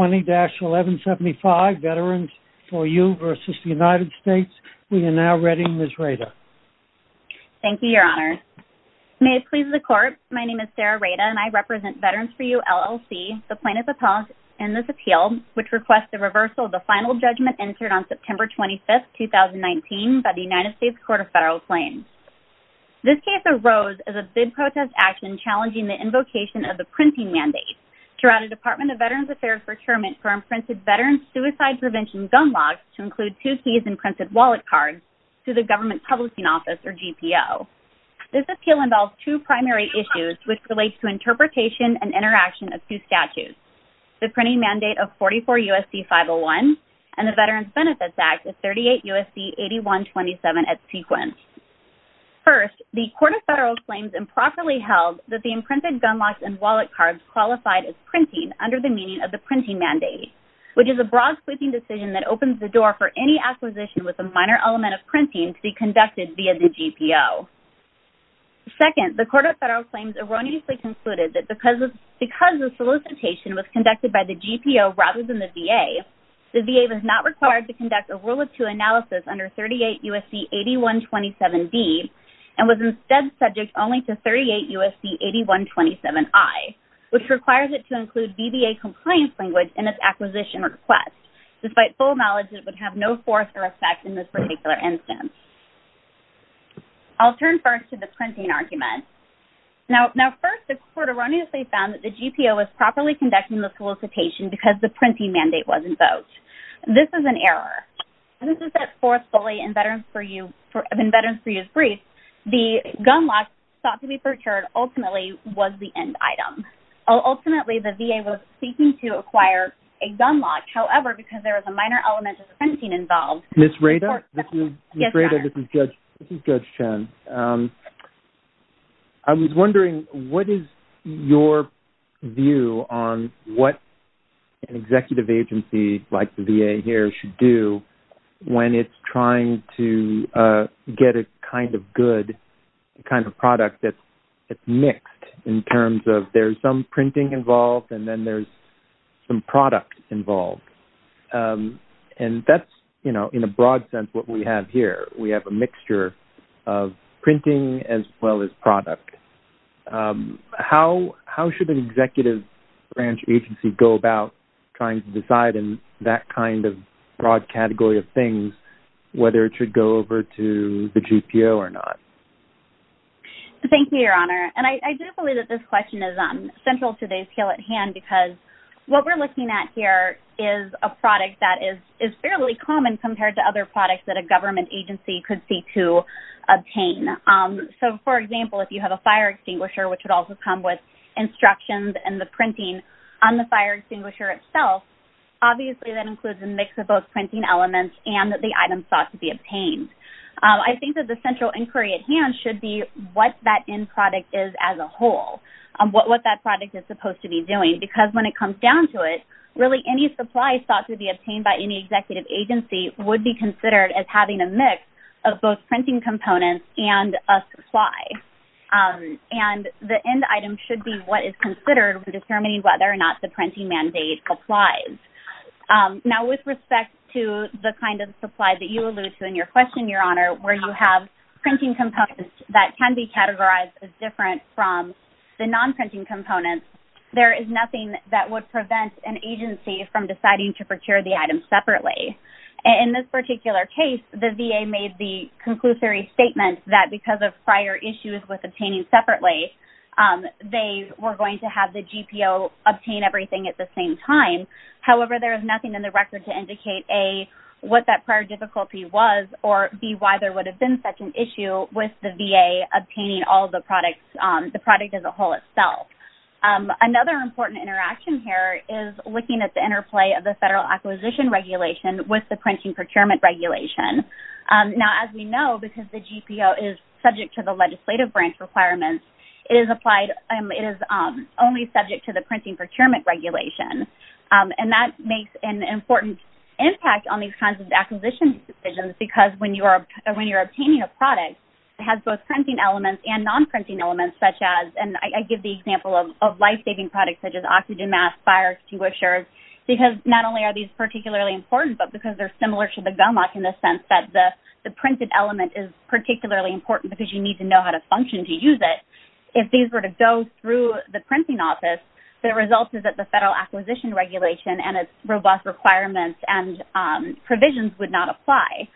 20-1175 Veterans4You v. United States. We are now ready, Ms. Rada. Thank you, Your Honor. May it please the Court, my name is Sarah Rada and I represent Veterans4You LLC, the plaintiff's appellate in this appeal which requests the reversal of the final judgment entered on September 25th, 2019 by the United States Court of Federal Claims. This case arose as a big protest action challenging the invocation of the printing mandate. Throughout the Veterans Affair Procurement for imprinted veterans suicide prevention gun locks to include two keys imprinted wallet cards to the government publishing office or GPO. This appeal involves two primary issues which relates to interpretation and interaction of two statutes, the printing mandate of 44 U.S.C. 501 and the Veterans Benefits Act of 38 U.S.C. 8127 at sequence. First, the Court of Federal Claims improperly held that the printing mandate which is a broad sweeping decision that opens the door for any acquisition with a minor element of printing to be conducted via the GPO. Second, the Court of Federal Claims erroneously concluded that because the solicitation was conducted by the GPO rather than the VA, the VA was not required to conduct a rule of two analysis under 38 U.S.C. 8127D and was instead subject only to 38 U.S.C. 8127I which requires it to include VBA compliance language in its acquisition request despite full knowledge it would have no force or effect in this particular instance. I'll turn first to the printing argument. Now first, the Court erroneously found that the GPO was properly conducting the solicitation because the printing mandate was invoked. This is an error. This is that fourth bully in Veterans for You's brief, the gun lock thought to be seeking to acquire a gun lock. However, because there was a minor element of printing involved. Ms. Rada, this is Judge Chen. I was wondering what is your view on what an executive agency like the VA here should do when it's trying to get a kind of good kind of product that it's mixed in terms of there's some printing involved and then there's some product involved and that's you know in a broad sense what we have here. We have a mixture of printing as well as product. How should an executive branch agency go about trying to decide in that kind of broad category of things whether it should go over to the central today's scale at hand because what we're looking at here is a product that is fairly common compared to other products that a government agency could seek to obtain. So for example, if you have a fire extinguisher which would also come with instructions and the printing on the fire extinguisher itself obviously that includes a mix of both printing elements and that the items thought to be obtained. I think that the central inquiry at hand should be what that end product is as a whole. What that product is supposed to be doing because when it comes down to it really any supplies thought to be obtained by any executive agency would be considered as having a mix of both printing components and a supply and the end item should be what is considered determining whether or not the printing mandate applies. Now with respect to the kind of supply that you allude to in your question your honor where you have printing components that can be categorized as different from the non-printing components there is nothing that would prevent an agency from deciding to procure the item separately. In this particular case the VA made the conclusory statement that because of prior issues with obtaining separately they were going to have the GPO obtain everything at the same time. However there is nothing in the record to indicate a what that prior difficulty was or be why there would have been such an issue with the VA obtaining all the products the product as a whole itself. Another important interaction here is looking at the interplay of the federal acquisition regulation with the printing procurement regulation. Now as we know because the GPO is subject to the legislative branch requirements it is applied and it is only subject to the printing procurement regulation and that makes an important impact on these kinds of acquisitions decisions because when you are when you're obtaining a product it has both printing elements and non-printing elements such as and I give the example of life-saving products such as oxygen masks, fire extinguishers because not only are these particularly important but because they're similar to the gum lock in the sense that the the printed element is particularly important because you need to know how to function to use it. If these were to go through the printing office the result is that the federal acquisition regulation and its robust requirements and provisions would not apply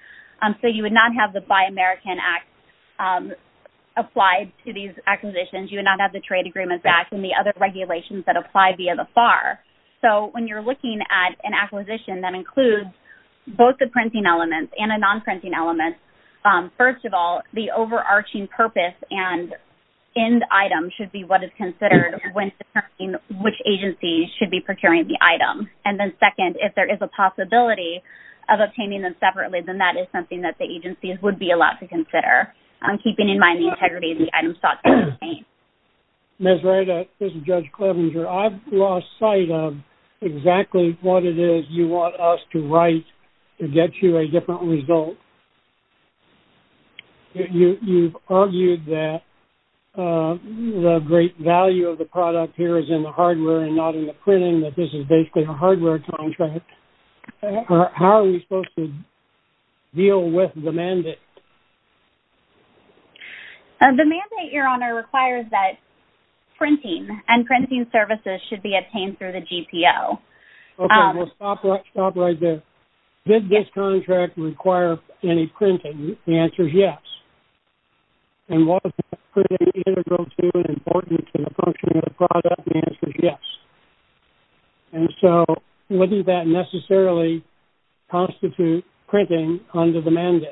so you would not have the Buy American Act applied to these acquisitions you would not have the Trade Agreements Act and the other regulations that apply via the FAR. So when you're looking at an acquisition that includes both the printing elements and a non-printing element first of all the overarching purpose and end item should be what is considered when determining which agencies should be procuring the item and then second if there is a possibility of obtaining them separately then that is something that the agencies would be allowed to consider. I'm keeping in mind the integrity of the item sought. Ms. Wright, this is Judge Clevenger. I've lost sight of exactly what it is you want us to write to get you a different result. You've argued that the great value of the product here is in the hardware and not in the printing that this is basically a hardware contract. How are we supposed to deal with the mandate? The mandate, your honor, requires that printing and printing services should be obtained through the GPO. Okay, well stop right there. Did this contract require any other product? The answer is yes. And so would that necessarily constitute printing under the mandate?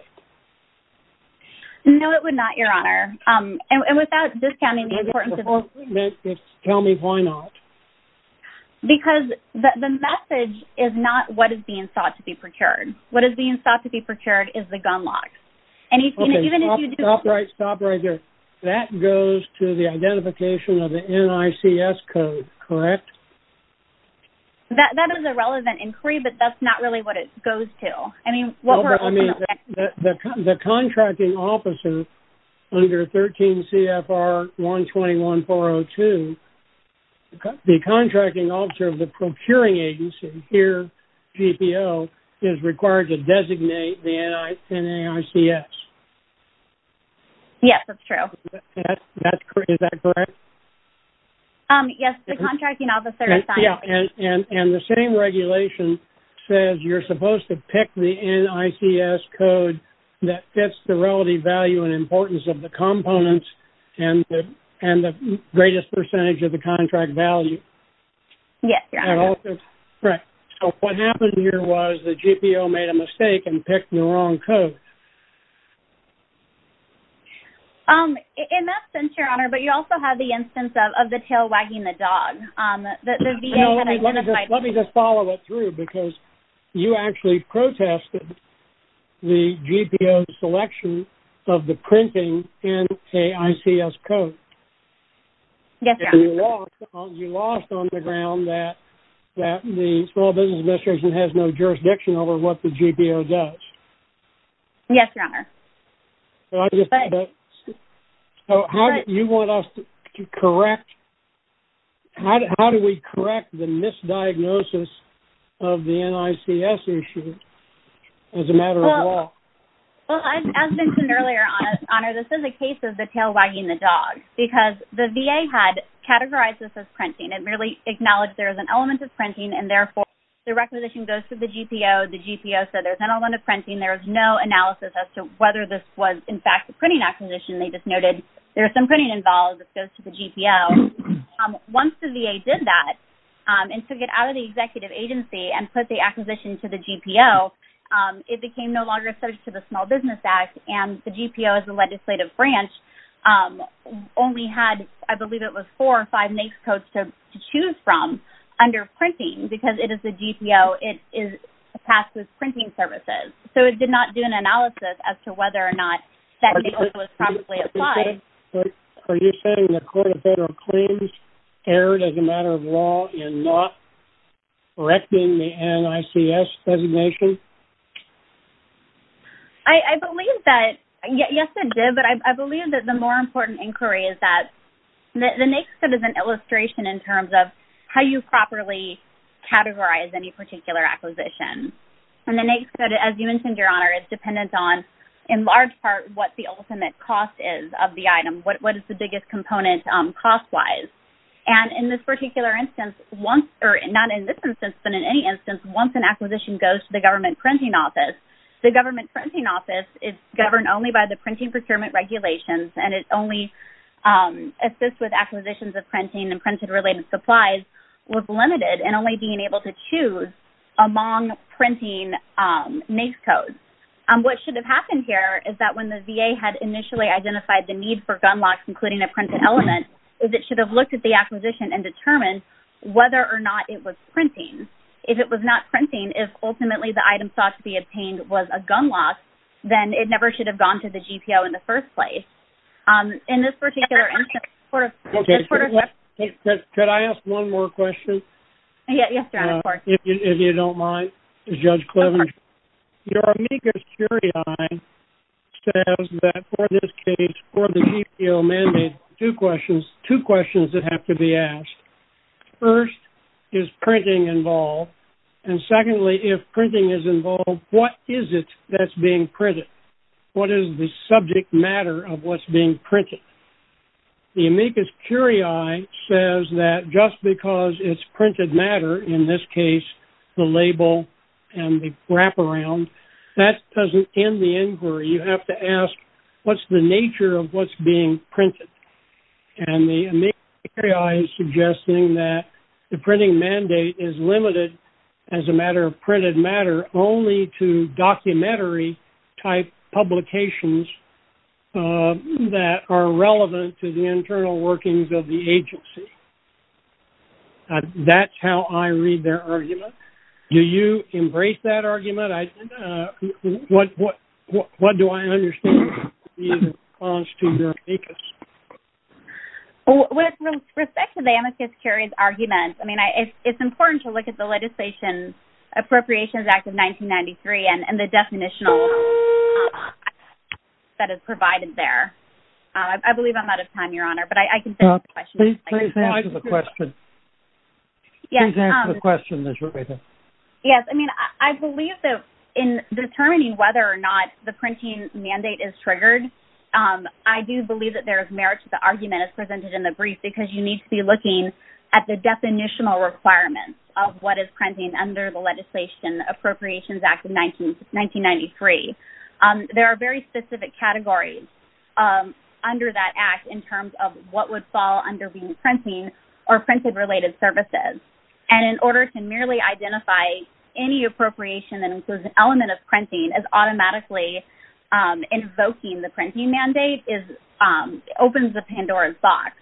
No, it would not, your honor. And without discounting the importance of this. Tell me why not. Because the message is not what is being thought to be procured. What is being thought to be procured is the gun locks. Okay, stop right there. That goes to the identification of the NICS code, correct? That is a relevant inquiry, but that's not really what it goes to. I mean, the contracting officer under 13 CFR 121402, the contracting officer of the procuring agency here, GPO, is required to designate the NICS. Yes, that's true. Is that correct? Yes, the contracting officer. And the same regulation says you're supposed to pick the NICS code that fits the relative value and importance of the Right. So what happened here was the GPO made a mistake and picked the wrong code. In that sense, your honor, but you also have the instance of the tail wagging the dog. Let me just follow it through because you actually protested the GPO selection of the printing NICS code. Yes, your honor. You lost on the ground that the Small Business Administration has no jurisdiction over what the GPO does. Yes, your honor. So how do you want us to correct? How do we correct the misdiagnosis of the NICS issue as a matter of law? Well, as mentioned earlier, your honor, this is a case of the tail wagging the dog because the VA had categorized this as printing and really acknowledged there was an element of printing and therefore the requisition goes to the GPO. The GPO said there's an element of printing. There was no analysis as to whether this was in fact a printing acquisition. They just noted there was some printing involved. This goes to the GPO. Once the VA did that and took it out of the executive agency and put the acquisition to the GPO, it became no longer subject to the Small Business Act and the GPO as a legislative branch only had, I believe it was four or five NICS codes to choose from under printing because it is a GPO. It is tasked with printing services. So it did not do an analysis as to whether or not that NICS code was probably applied. Are you saying the court of federal claims erred as a matter of law in not correcting the NICS designation? I believe that, yes it did, but I believe that the more important inquiry is that the NICS code is an illustration in terms of how you properly categorize any particular acquisition. And the NICS code, as you mentioned, your honor, is dependent on, in large part, what the ultimate cost is of the item. What is the biggest component cost-wise? And in this particular instance, or not in this instance but in any instance, once an acquisition goes to the government printing office, the government printing office is governed only by the printing procurement regulations and it only assists with acquisitions of printing and printed related supplies with limited and only being able to choose among printing NICS codes. What should have happened here is that when the VA had initially identified the need for gun locks, including a printed element, is it should have looked at the acquisition and determined whether or not it was printing. If it was not printing, if ultimately the item sought to be obtained was a gun lock, then it never should have gone to the GPO in the first place. In this particular instance, the court of federal claims... Could I ask one more question? Yes, your honor, of course. If you don't mind, Judge Cleavage. Your amicus curiae says that for this case, for the GPO mandate, two questions that have to be asked. First, is printing involved? And secondly, if printing is involved, what is it that's being printed? What is the subject matter of what's being printed? The amicus curiae says that just because it's printed matter, in this case, the label and the wraparound, that doesn't end the inquiry. You have to ask, what's the nature of what's being printed? And the amicus curiae is suggesting that the printing mandate is limited as a matter of printed matter only to documentary type publications that are relevant to the internal workings of the agency. That's how I read their argument. Do you embrace that argument? What do I understand is the response to your amicus? With respect to the amicus curiae's argument, I mean, it's important to look at the Appropriations Act of 1993 and the definition that is provided there. I believe I'm out of time, your honor, but I can take the question. Please answer the question. Please answer the question, Ms. Rubita. Yes. I mean, I believe that in determining whether or not the printing mandate is triggered, I do believe that there is merit to the argument as presented in the brief, because you need to be looking at the definitional requirements of what is printing under the Legislation Appropriations Act of 1993. There are very specific categories that are defined under that act in terms of what would fall under being printing or printed-related services. In order to merely identify any appropriation that includes an element of printing as automatically invoking the printing mandate opens the Pandora's box,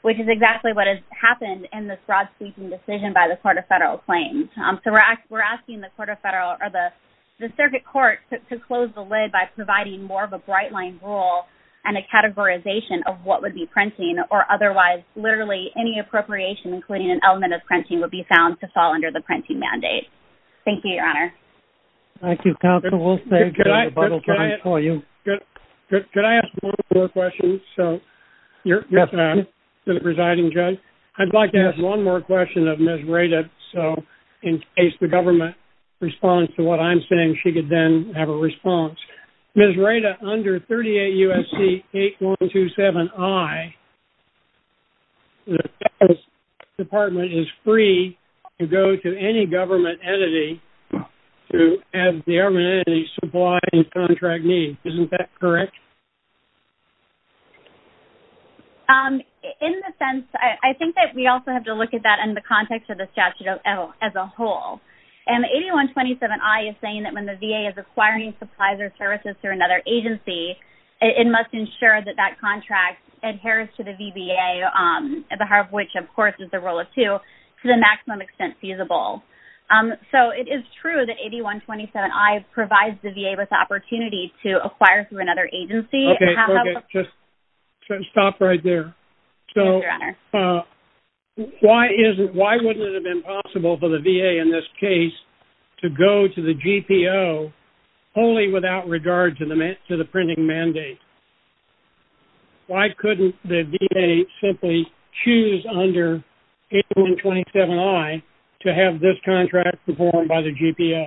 which is exactly what has happened in this broad-speaking decision by the Court of Federal Claims. We're asking the Circuit Court to close the lid by providing more of a bright-line rule and a categorization of what would be printing, or otherwise, literally, any appropriation, including an element of printing, would be found to fall under the printing mandate. Thank you, your honor. Thank you, counsel. We'll save time for you. Could I ask one more question? I'd like to ask one more question of Ms. Rada, so in case the government responds to what I'm saying. Ms. Rada, under 38 U.S.C. 8127I, the Department is free to go to any government entity to add the government entity's supply and contract need. Isn't that correct? In a sense, I think that we also have to look at that in the context of the statute as a whole. 8127I is saying that when the VA is acquiring supplies or services through another agency, it must ensure that that contract adheres to the VBA, at the heart of which, of course, is the rule of two, to the maximum extent feasible. It is true that 8127I provides the VA with the opportunity to acquire through another agency. Just stop right there. Why wouldn't it have been possible for the VA in this case to go to the GPO wholly without regard to the printing mandate? Why couldn't the VA simply choose under 8127I to have this contract performed by the GPO?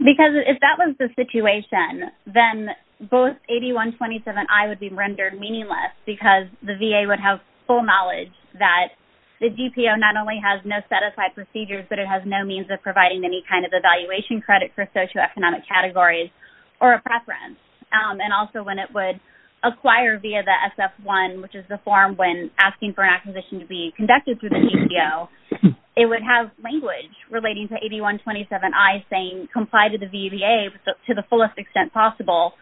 If that was the situation, then both 8127I would be rendered meaningless because the VA would have full knowledge that the GPO not only has no set of five procedures, but it has no means of providing any kind of evaluation credit for socioeconomic categories or a preference. Also, when it would acquire via the SF-1, which is the form when asking for an acquisition to be conducted through a GPO, it would have language relating to 8127I saying comply to the VBA to the fullest extent possible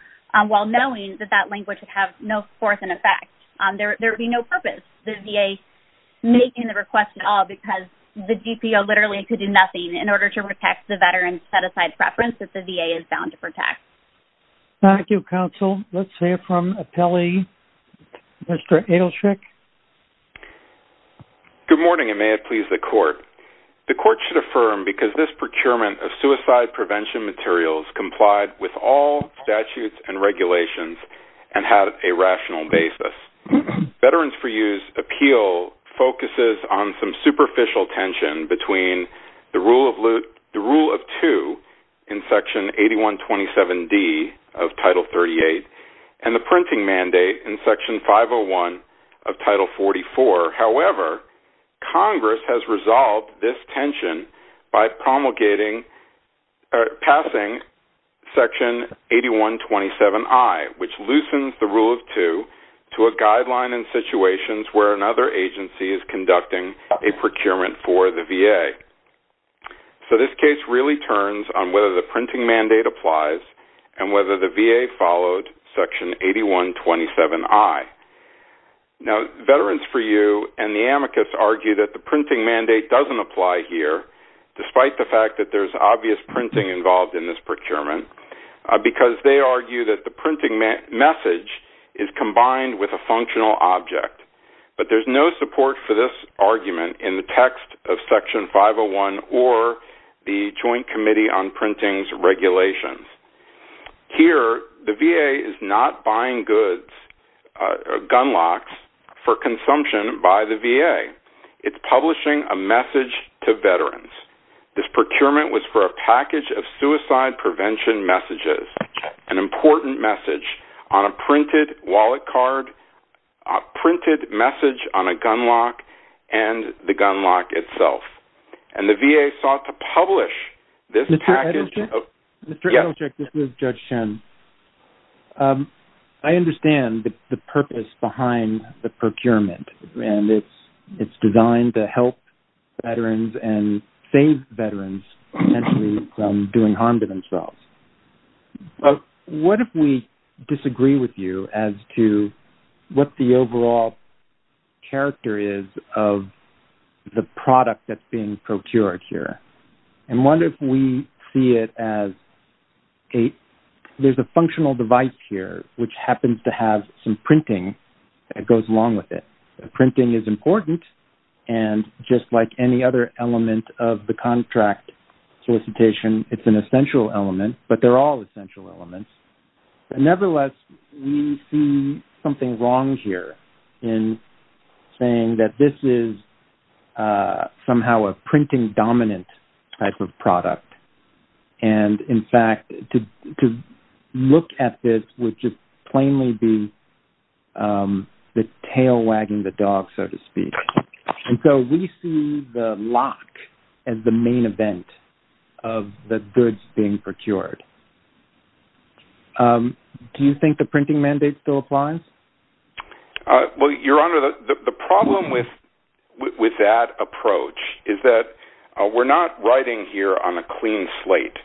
while knowing that that language would have no force in effect. There would be no purpose the VA making the request at all because the GPO literally could do nothing in order to protect the veteran's set-aside preference that the VA is bound to protect. Thank you, counsel. Let's hear from appellee, Mr. Adelschick. Good morning, and may it please the court. The court should affirm because this procurement of suicide prevention materials complied with all statutes and regulations and have a rational basis. Veterans for Use appeal focuses on some superficial tension between the Rule of 2 in Section 8127D of Title 38 and the printing mandate in Section 501 of Title 44. However, Congress has resolved this tension by promulgating or passing Section 8127I, which loosens the Rule of 2 to a guideline in situations where another agency is conducting a procurement for the VA. So this case really turns on whether the printing mandate applies and whether the VA followed Section 8127I. Now, Veterans for You and the amicus argue that the printing mandate doesn't apply here despite the fact that there's obvious printing involved in this procurement because they argue that the printing message is combined with a functional object. But there's no support for this argument in the text of Section 501 or the Joint Committee on Printing's regulations. Here, the VA is not buying goods or gun locks for consumption by the VA. It's publishing a message to veterans. This procurement was for a package of suicide prevention messages, an important message on a printed wallet card, a printed message on a gun lock, and the gun lock itself. And the VA sought to publish this package of... Mr. Edelcheck, this is Judge Shen. I understand the purpose behind the procurement and it's designed to help veterans and save veterans potentially from doing harm to themselves. But what if we disagree with you as to what the overall character is of the product that's being procured here? And what if we see it as a... There's a functional device here which happens to have some printing that goes along with it. The printing is important and just like any other element of the contract solicitation, it's an essential element, but they're all essential elements. And nevertheless, we see something wrong here in saying that this is somehow a printing-dominant type of product. And in fact, to look at this would just plainly be the tail wagging the dog, so to speak. And so, we see the lock as the main event of the goods being procured. Do you think the printing mandate still applies? Well, Your Honor, the problem with that approach is that we're not writing here on a clean slate.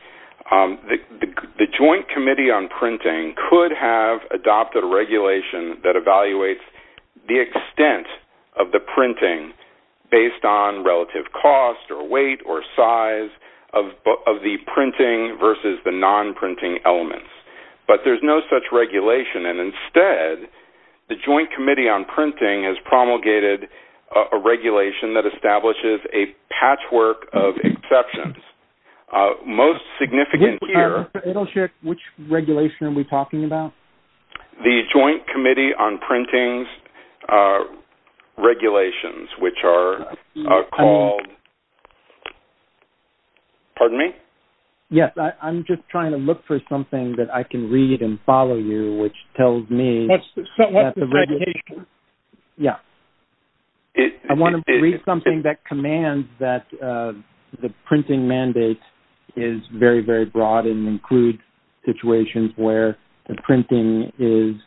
The Joint Committee on Printing could have adopted a regulation that evaluates the extent of the printing based on relative cost or weight or size of the printing versus the non-printing elements. But there's no such regulation. And instead, the Joint Committee on Printing has promulgated a regulation that establishes a patchwork of exceptions. Most significant here... Which regulation are we talking about? The Joint Committee on Printing's regulations, which are called... Pardon me? Yes. I'm just trying to look for something that I can read and follow you, which tells me... Yes. I want to read something that commands that the printing mandate is very, very broad and includes situations where the printing is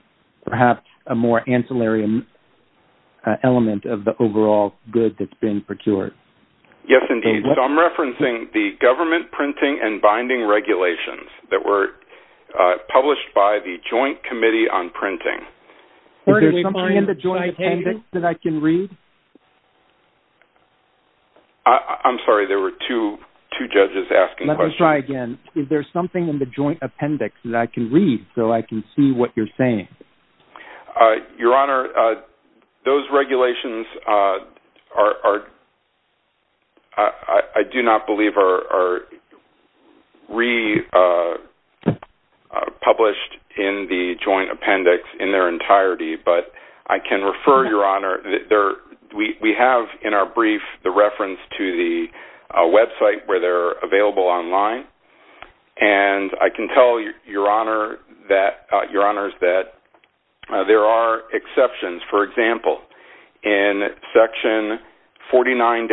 perhaps a more ancillary element of the overall good that's being procured. Yes, indeed. So, I'm referencing the government printing and binding regulations that were published by the Joint Committee on Printing. Is there something in the joint appendix that I can read? I'm sorry. There were two judges asking questions. Let me try again. Is there something in the joint appendix that I can read so I can see what you're saying? Your Honor, those regulations are... I do not believe are republished in the joint appendix in their entirety, but I can refer, Your Honor... We have in our brief the reference to the available online, and I can tell Your Honors that there are exceptions. For example, in section 49-2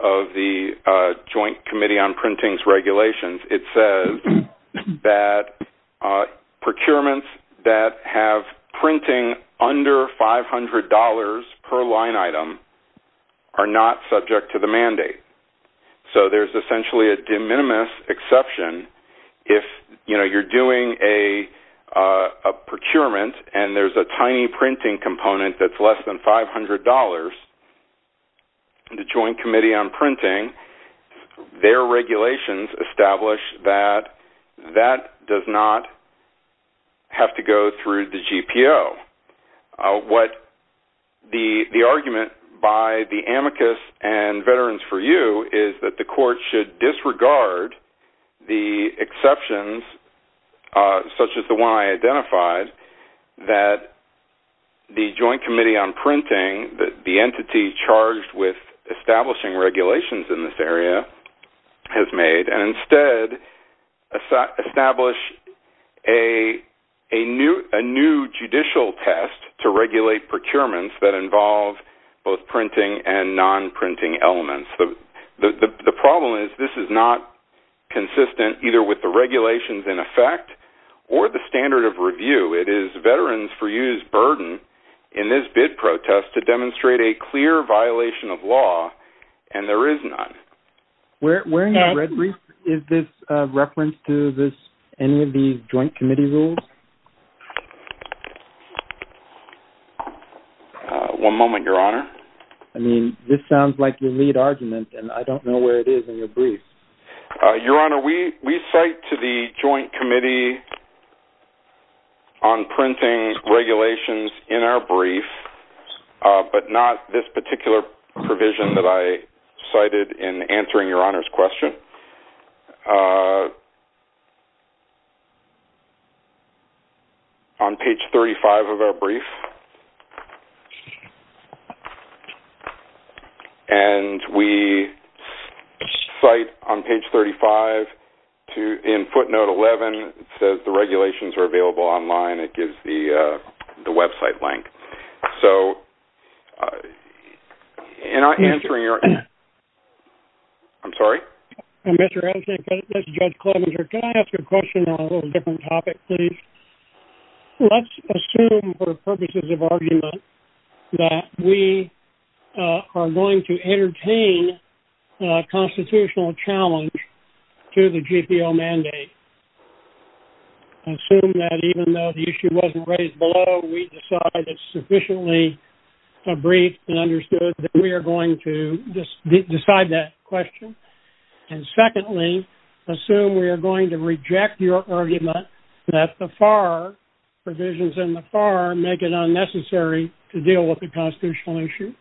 of the Joint Committee on Printing's regulations, it says that procurements that have printing under $500 per line item are not subject to the mandate. So, there's essentially a de minimis exception. If you're doing a procurement and there's a tiny printing component that's less than $500 in the Joint Committee on Printing, their regulations establish that that does not have to go through the GPO. The argument by the amicus and Veterans for you is that the court should disregard the exceptions, such as the one I identified, that the Joint Committee on Printing, the entity charged with establishing regulations in this area has made, and instead establish a new judicial test to regulate procurements that involve both printing and non-printing elements. The problem is this is not consistent either with the regulations in effect or the standard of review. It is Veterans for you's burden in this bid protest to demonstrate a clear violation of law, and there is none. Where in your red brief is this reference to any of these joint committee rules? One moment, Your Honor. I mean, this sounds like your lead argument, and I don't know where it is in your brief. Your Honor, we cite to the Joint Committee on Printing regulations in our brief, but not this particular provision that I cited in answering Your Honor's question. On page 35 of our brief, and we cite on page 35 in footnote 11, it says the regulations are available online. It gives the website link. So, in answering Your Honor's... I'm sorry? Mr. Edelstein, Judge Klobuchar, can I ask a question on a little different topic, please? Let's assume for purposes of argument that we are going to entertain a constitutional challenge to the GPO mandate. Assume that even though the issue wasn't raised below, we decide it's sufficiently a brief and understood that we are going to decide that question. And secondly, assume we are going to reject your argument that the FAR provisions in the FAR make it unnecessary to deal with the constitutional issue.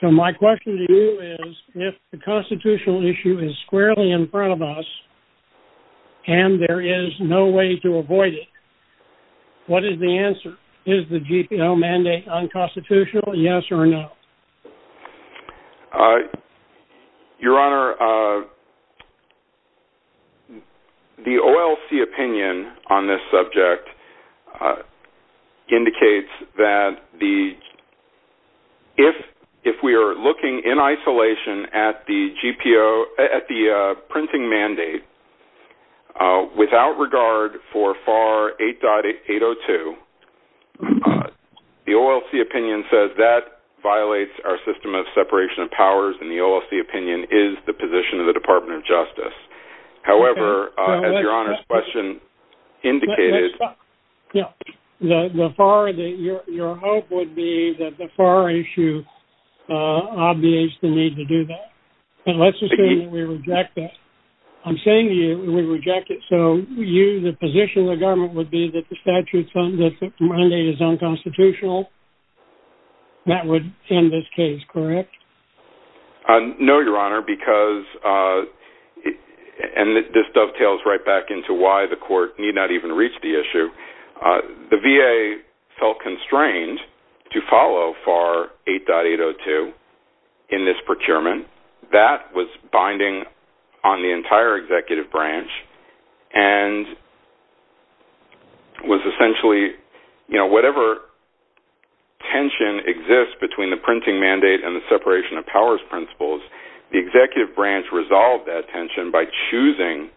So, my question to you is, if the constitutional issue is squarely in front of us, and there is no way to avoid it, what is the answer? Is the GPO mandate unconstitutional, yes or no? Your Honor, the OLC opinion on this subject indicates that if we are looking in isolation at the printing mandate without regard for FAR 8.802, the OLC opinion says that violates our system of separation of powers, and the OLC opinion is the position of the Department of Justice. However, as Your Honor's question indicated... Your hope would be that the FAR issue obviates the need to do that, unless you say we reject it. I'm saying we reject it. So, you, the position of the government would be that the mandate is unconstitutional? That would end this case, correct? No, Your Honor, because... And this dovetails right back into why the court need not even reach the issue. The VA felt constrained to follow FAR 8.802 in this procurement. That was binding on the entire executive branch, and was essentially, you know, whatever tension exists between the printing mandate and the separation of powers principles, the executive branch resolved that tension by choosing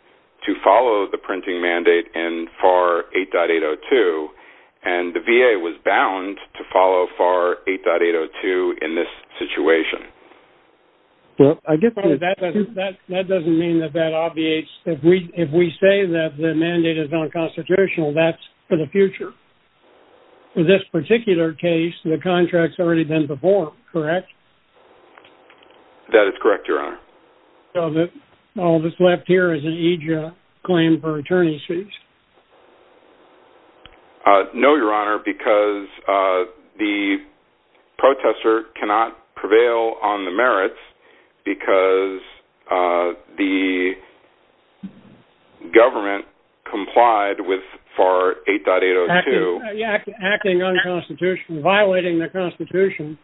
to follow the printing mandate in FAR 8.802, and the VA was bound to follow FAR 8.802 in this situation. That doesn't mean that that obviates... If we say that the mandate is unconstitutional, that's for the future. In this particular case, the contract's already been performed, correct? That is correct, Your Honor. So, all that's left here is an EJIA claim for attorney's fees? No, Your Honor, because the protester cannot prevail on the merits because the government complied with FAR 8.802... Acting unconstitutional, violating the constitution.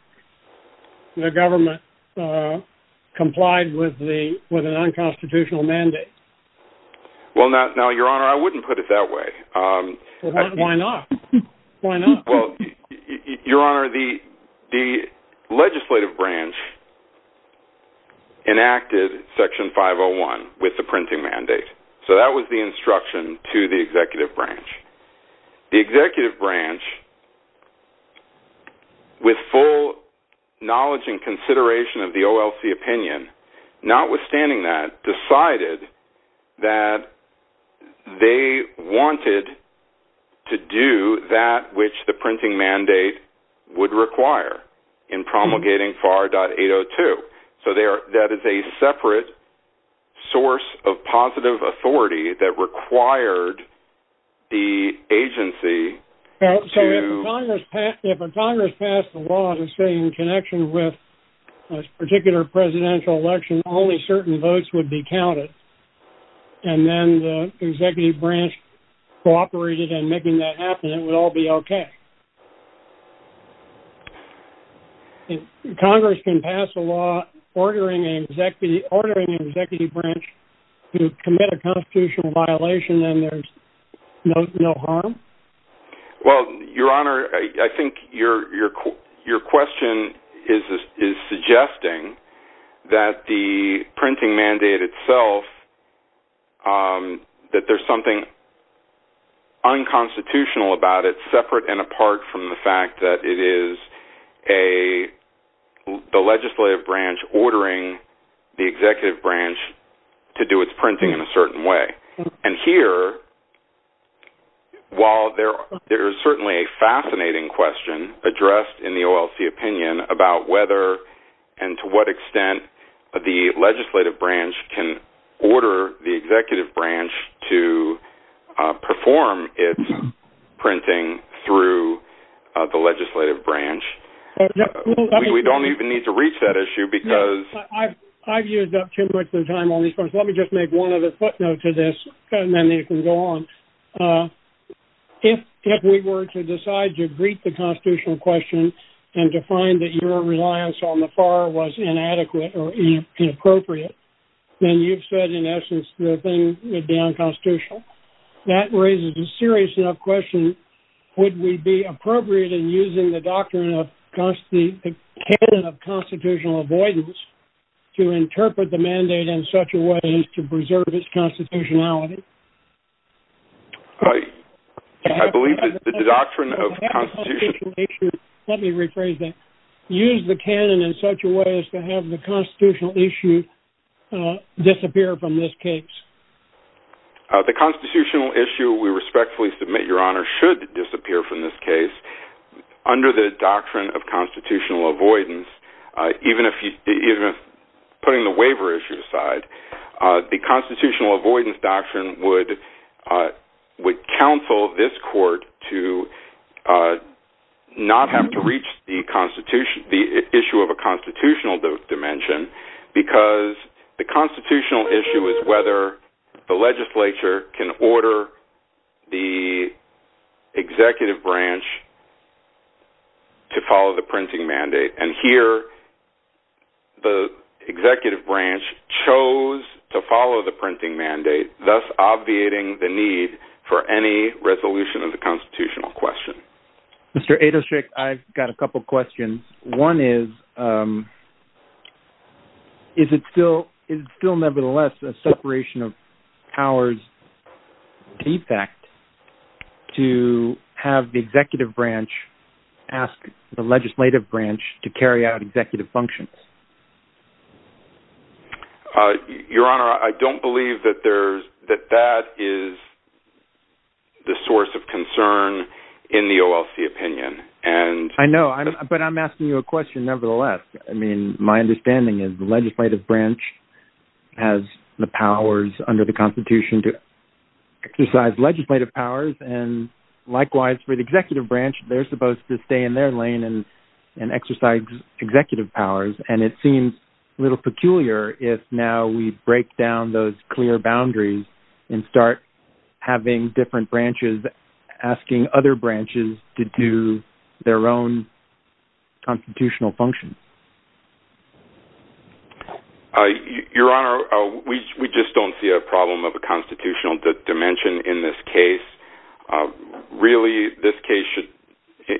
The government complied with an unconstitutional mandate. Well, now, Your Honor, I wouldn't put it that way. Why not? Why not? Well, Your Honor, the legislative branch enacted Section 501 with the printing mandate, so that was the instruction to the executive branch. The executive branch, with full knowledge and consideration of the OLC opinion, notwithstanding that, decided that they wanted to do that which the printing mandate would require in promulgating FAR 8.802. So, that is a separate source of positive authority that required the agency... So, if Congress passed the law that's in connection with a particular presidential election, only certain votes would be counted, and then the executive branch cooperated in making that happen, it would all be okay. Congress can pass a law ordering an executive branch to commit a constitutional violation, and there's no harm? Well, Your Honor, I think your question is suggesting that the printing mandate itself, that there's something unconstitutional about it, separate and apart from the fact that it is the legislative branch ordering the executive branch to do its printing in a certain way. And here, while there is certainly a fascinating question addressed in the OLC opinion about whether and to what extent the legislative branch can order the executive branch to perform its printing through the legislative branch, we don't even need to reach that issue because... I've used up too much of the time on these points. Let me just make one other footnote to this, and then we can go on. If we were to decide to greet the constitutional question and to find that your reliance on the FAR was inadequate or inappropriate, then you've said, in essence, the thing would be unconstitutional. That raises a serious enough question, would we be appropriate in using the doctrine of constitutional avoidance to interpret the mandate in such a way as to preserve its constitutionality? I believe that the doctrine of constitutionality... Let me rephrase that. Use the canon in such a way as to have the constitutional issue disappear from this case. The constitutional issue, we respectfully submit, Your Honor, should disappear from this case under the doctrine of constitutional avoidance, even if putting the waiver issue aside, the constitutional avoidance doctrine would counsel this court to not have to reach the issue of a constitutional dimension because the constitutional issue is whether the legislature can order the executive branch to follow the printing mandate. And here, the executive branch chose to follow the printing mandate, thus obviating the need for any resolution of the constitutional question. Mr. Adelscheck, I've got a couple of questions. One is, is it still nevertheless a separation of powers defect to have the executive branch ask the legislative branch to carry out executive functions? Your Honor, I don't believe that that is the source of concern in the OLC opinion. I know, but I'm asking you a question nevertheless. I mean, my understanding is the legislative branch has the powers under the Constitution to exercise legislative powers. And likewise, for the executive branch, they're supposed to stay in their lane and exercise executive powers. And it seems a little peculiar if now we break down those clear boundaries and start having different branches asking other branches to do their own constitutional functions. Your Honor, we just don't see a problem of a constitutional dimension in this case. Really, this case should,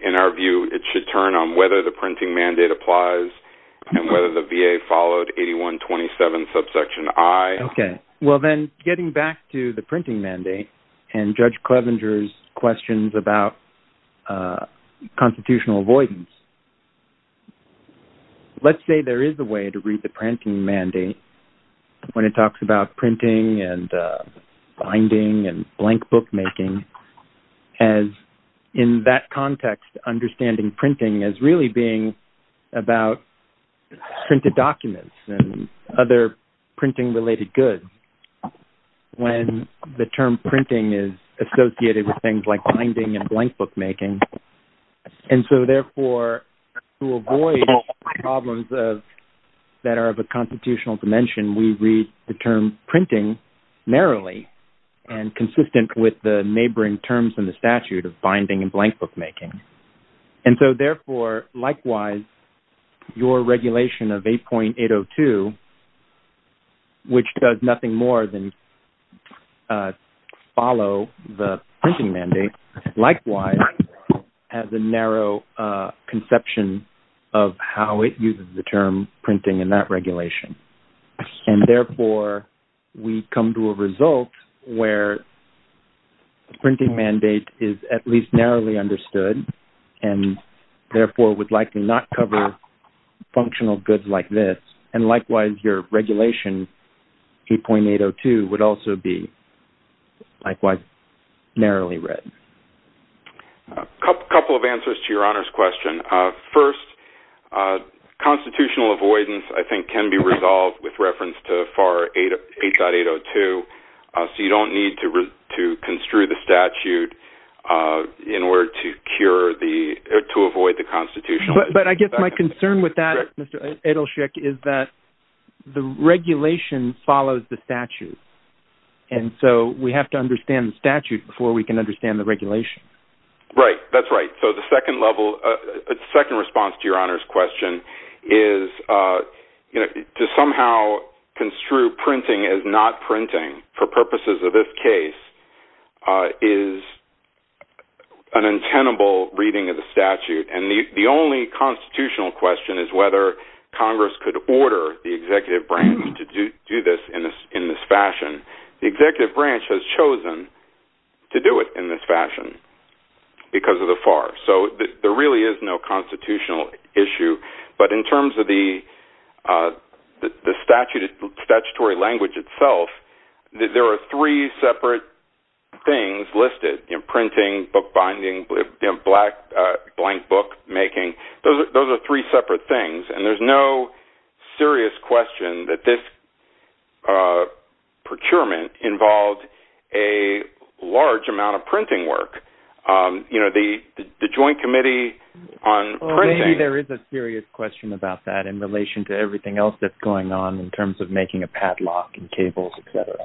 in our view, it should turn on whether the printing mandate applies and whether the VA followed 8127 subsection I. Okay. Well, then getting back to the printing mandate and Judge Clevenger's questions about constitutional avoidance, let's say there is a way to read the printing mandate when it talks about printing and binding and blank bookmaking as in that context, understanding printing as really being about printed documents and other printing related goods when the term printing is associated with things like binding and blank bookmaking. And so therefore, to avoid problems that are of a constitutional dimension, we read the term printing narrowly and consistent with the neighboring terms in the statute of binding and blank bookmaking. And so therefore, likewise, your regulation of 8.802, which does nothing more than follow the printing mandate, likewise, has a narrow conception of how it uses the term printing in that regulation. And therefore, we come to a result where the printing mandate is at least narrowly understood and therefore would likely not cover functional goods like this. And likewise, your regulation 8.802 would also be likewise narrowly read. A couple of answers to Your Honor's question. First, constitutional avoidance, I think, can be resolved with reference to FAR 8.802. So you don't need to construe the statute in order to cure the or to avoid the constitution. But I guess my concern with that, Mr. Edelsheik, is that the regulation follows the statute. And so we have to understand the statute before we can understand the regulation. Right, that's right. So the second level, second response to Your Honor's question is to somehow construe printing as not printing for purposes of this case is an untenable reading of the statute. And the only constitutional question is whether Congress could order the executive branch to do this in this fashion. The executive branch has chosen to do it in this fashion because of the FAR. So there really is no constitutional issue. But in terms of the statutory language itself, there are three separate things listed in printing, bookbinding, blank book making. Those are three separate things. And there's no serious question that this procurement involved a large amount of printing work. You know, the Joint Committee on Printing... Well, maybe there is a serious question about that in relation to everything else that's going on in terms of making a padlock and cables, etc.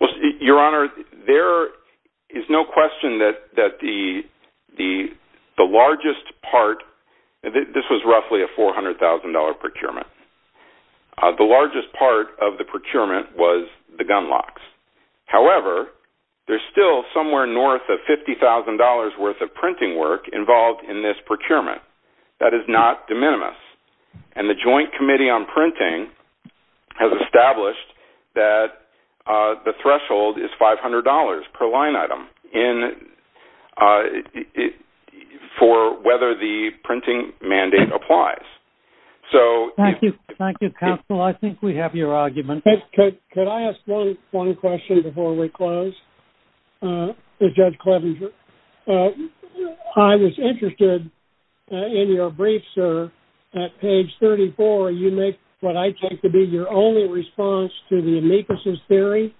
Well, Your Honor, there is no question that the largest part... This was roughly a $400,000 procurement. The largest part of the procurement was the gunlocks. However, there's still somewhere north of $50,000 worth of printing work involved in this procurement. That is not de minimis. And the Joint Committee on Printing has established that the threshold is $500 per line item for whether the printing mandate applies. Thank you. Thank you, counsel. I think we have your argument. Could I ask one question before we close, Judge Clevenger? I was interested in your brief, sir. At page 34, you make what I take to be your only response to the amicus's theory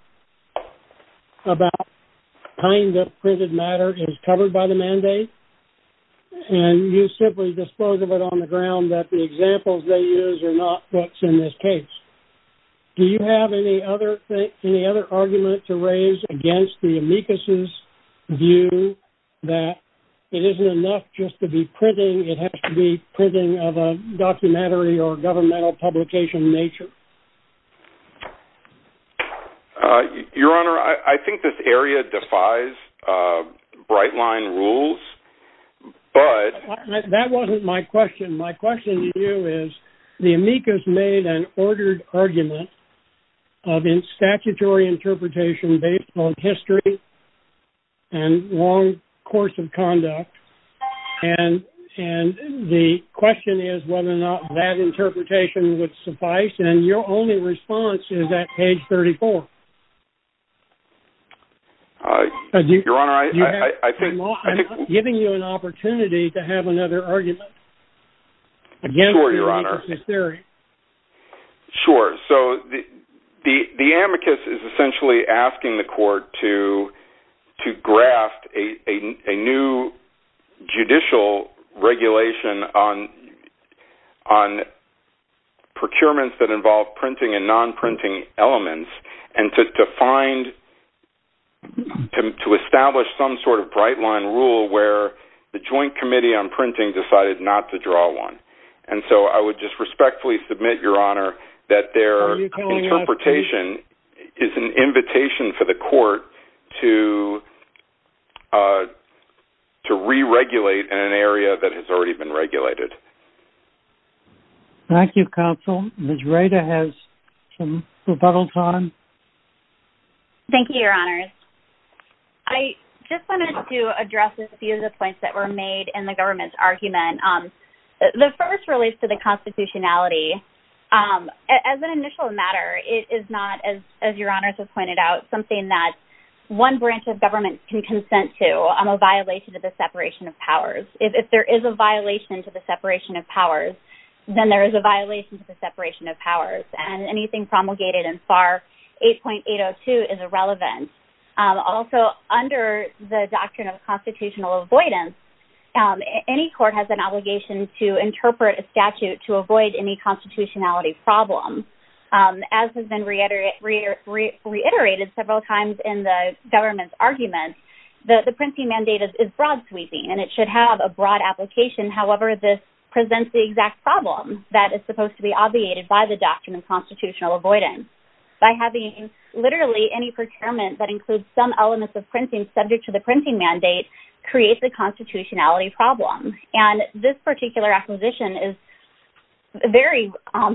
about kind of printed matter is covered by the mandate. And you simply dispose of it on the ground that the examples they use are not what's in this case. Do you have any other argument to raise against the amicus's view that it isn't enough just to be printing, it has to be printing of a documentary or governmental publication nature? Your Honor, I think this area defies bright line rules, but... That wasn't my question. My question to you is the amicus made an ordered argument of statutory interpretation based on history and long course of conduct. And the question is whether or not that interpretation would suffice. And your only response is at page 34. Your Honor, I think... I'm not giving you an opportunity to have another argument against the amicus's theory. Sure, Your Honor. Sure. So the amicus is essentially asking the court to graft a new judicial regulation on procurements that involve printing and non-printing elements and to establish some sort of bright line rule where the joint committee on printing decided not to draw one. And so I would just respectfully submit, Your Honor, that their interpretation is an invitation for the court to re-regulate in an area that has already been regulated. Thank you, counsel. Ms. Rader has some rebuttals on. Thank you, Your Honor. I just wanted to address a few of the points that were made in the government's argument. The first relates to the constitutionality. As an initial matter, it is not, as Your Honors have pointed out, something that one branch of government can consent to, a violation of the separation of powers. If there is a violation to the separation of powers, then there is a violation to the separation of powers. And anything promulgated in FAR 8.802 is irrelevant. Also, under the doctrine of constitutional avoidance, any court has an obligation to interpret a statute to avoid any constitutionality problem. As has been reiterated several times in the government's argument, the printing mandate is broad-sweeping, and it should have a broad application. However, this presents the exact problem that is supposed to be obviated by the doctrine of constitutional avoidance. By having literally any procurement that includes some elements of printing subject to the printing mandate creates a constitutionality problem. And this particular acquisition is very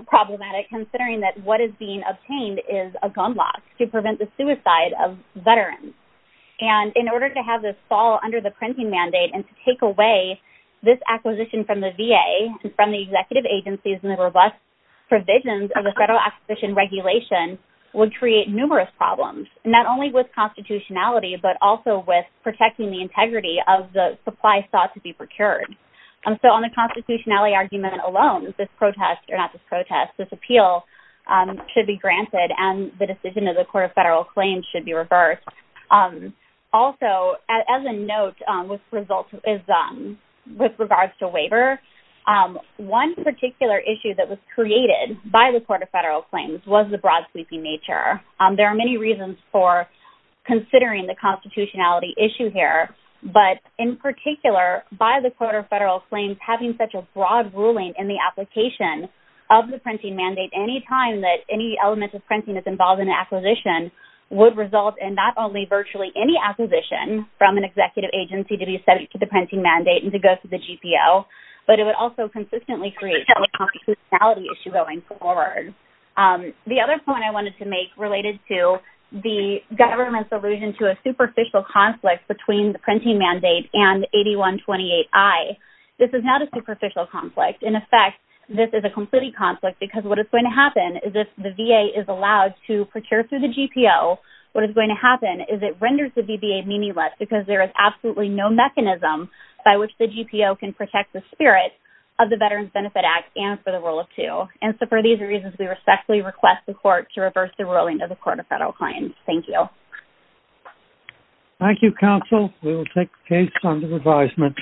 problematic considering that what is being obtained is a gun lock to prevent the suicide of veterans. And in order to have this fall under the printing mandate and to take away this acquisition from the VA and from the executive agencies and the robust provisions of the Federal Acquisition Regulation would create numerous problems, not only with constitutionality, but also with protecting the integrity of the supply sought to be procured. So on the constitutionality argument alone, this protest, or not this protest, this appeal should be granted and the decision of the Court of Federal Claims should be reversed. Also, as a note with regards to waiver, one particular issue that was created by the Court of Federal Claims was the broad-sweeping nature. There are many reasons for considering the constitutionality issue here, but in particular, by the Court of Federal Claims having such a broad ruling in the application of the printing mandate, any time that any element of printing is involved in an acquisition would result in not only virtually any acquisition from an executive agency to be subject to the printing mandate and to go to the GPO, but it would also consistently create a constitutionality issue going forward. The other point I wanted to make related to the government's allusion to a superficial conflict between the printing mandate and 8128I, this is not a superficial conflict. In effect, this is a complete conflict because what is going to happen is if the VA is allowed to procure through the GPO, what is going to happen is it renders the VBA meaningless because there is absolutely no mechanism by which the GPO can protect the spirit of the Veterans Benefit Act and for the rule of 2. And so for these reasons, we respectfully request the Court to reverse the ruling of the Court of Federal Claims. Thank you. Thank you, counsel. We will take the case under advisement.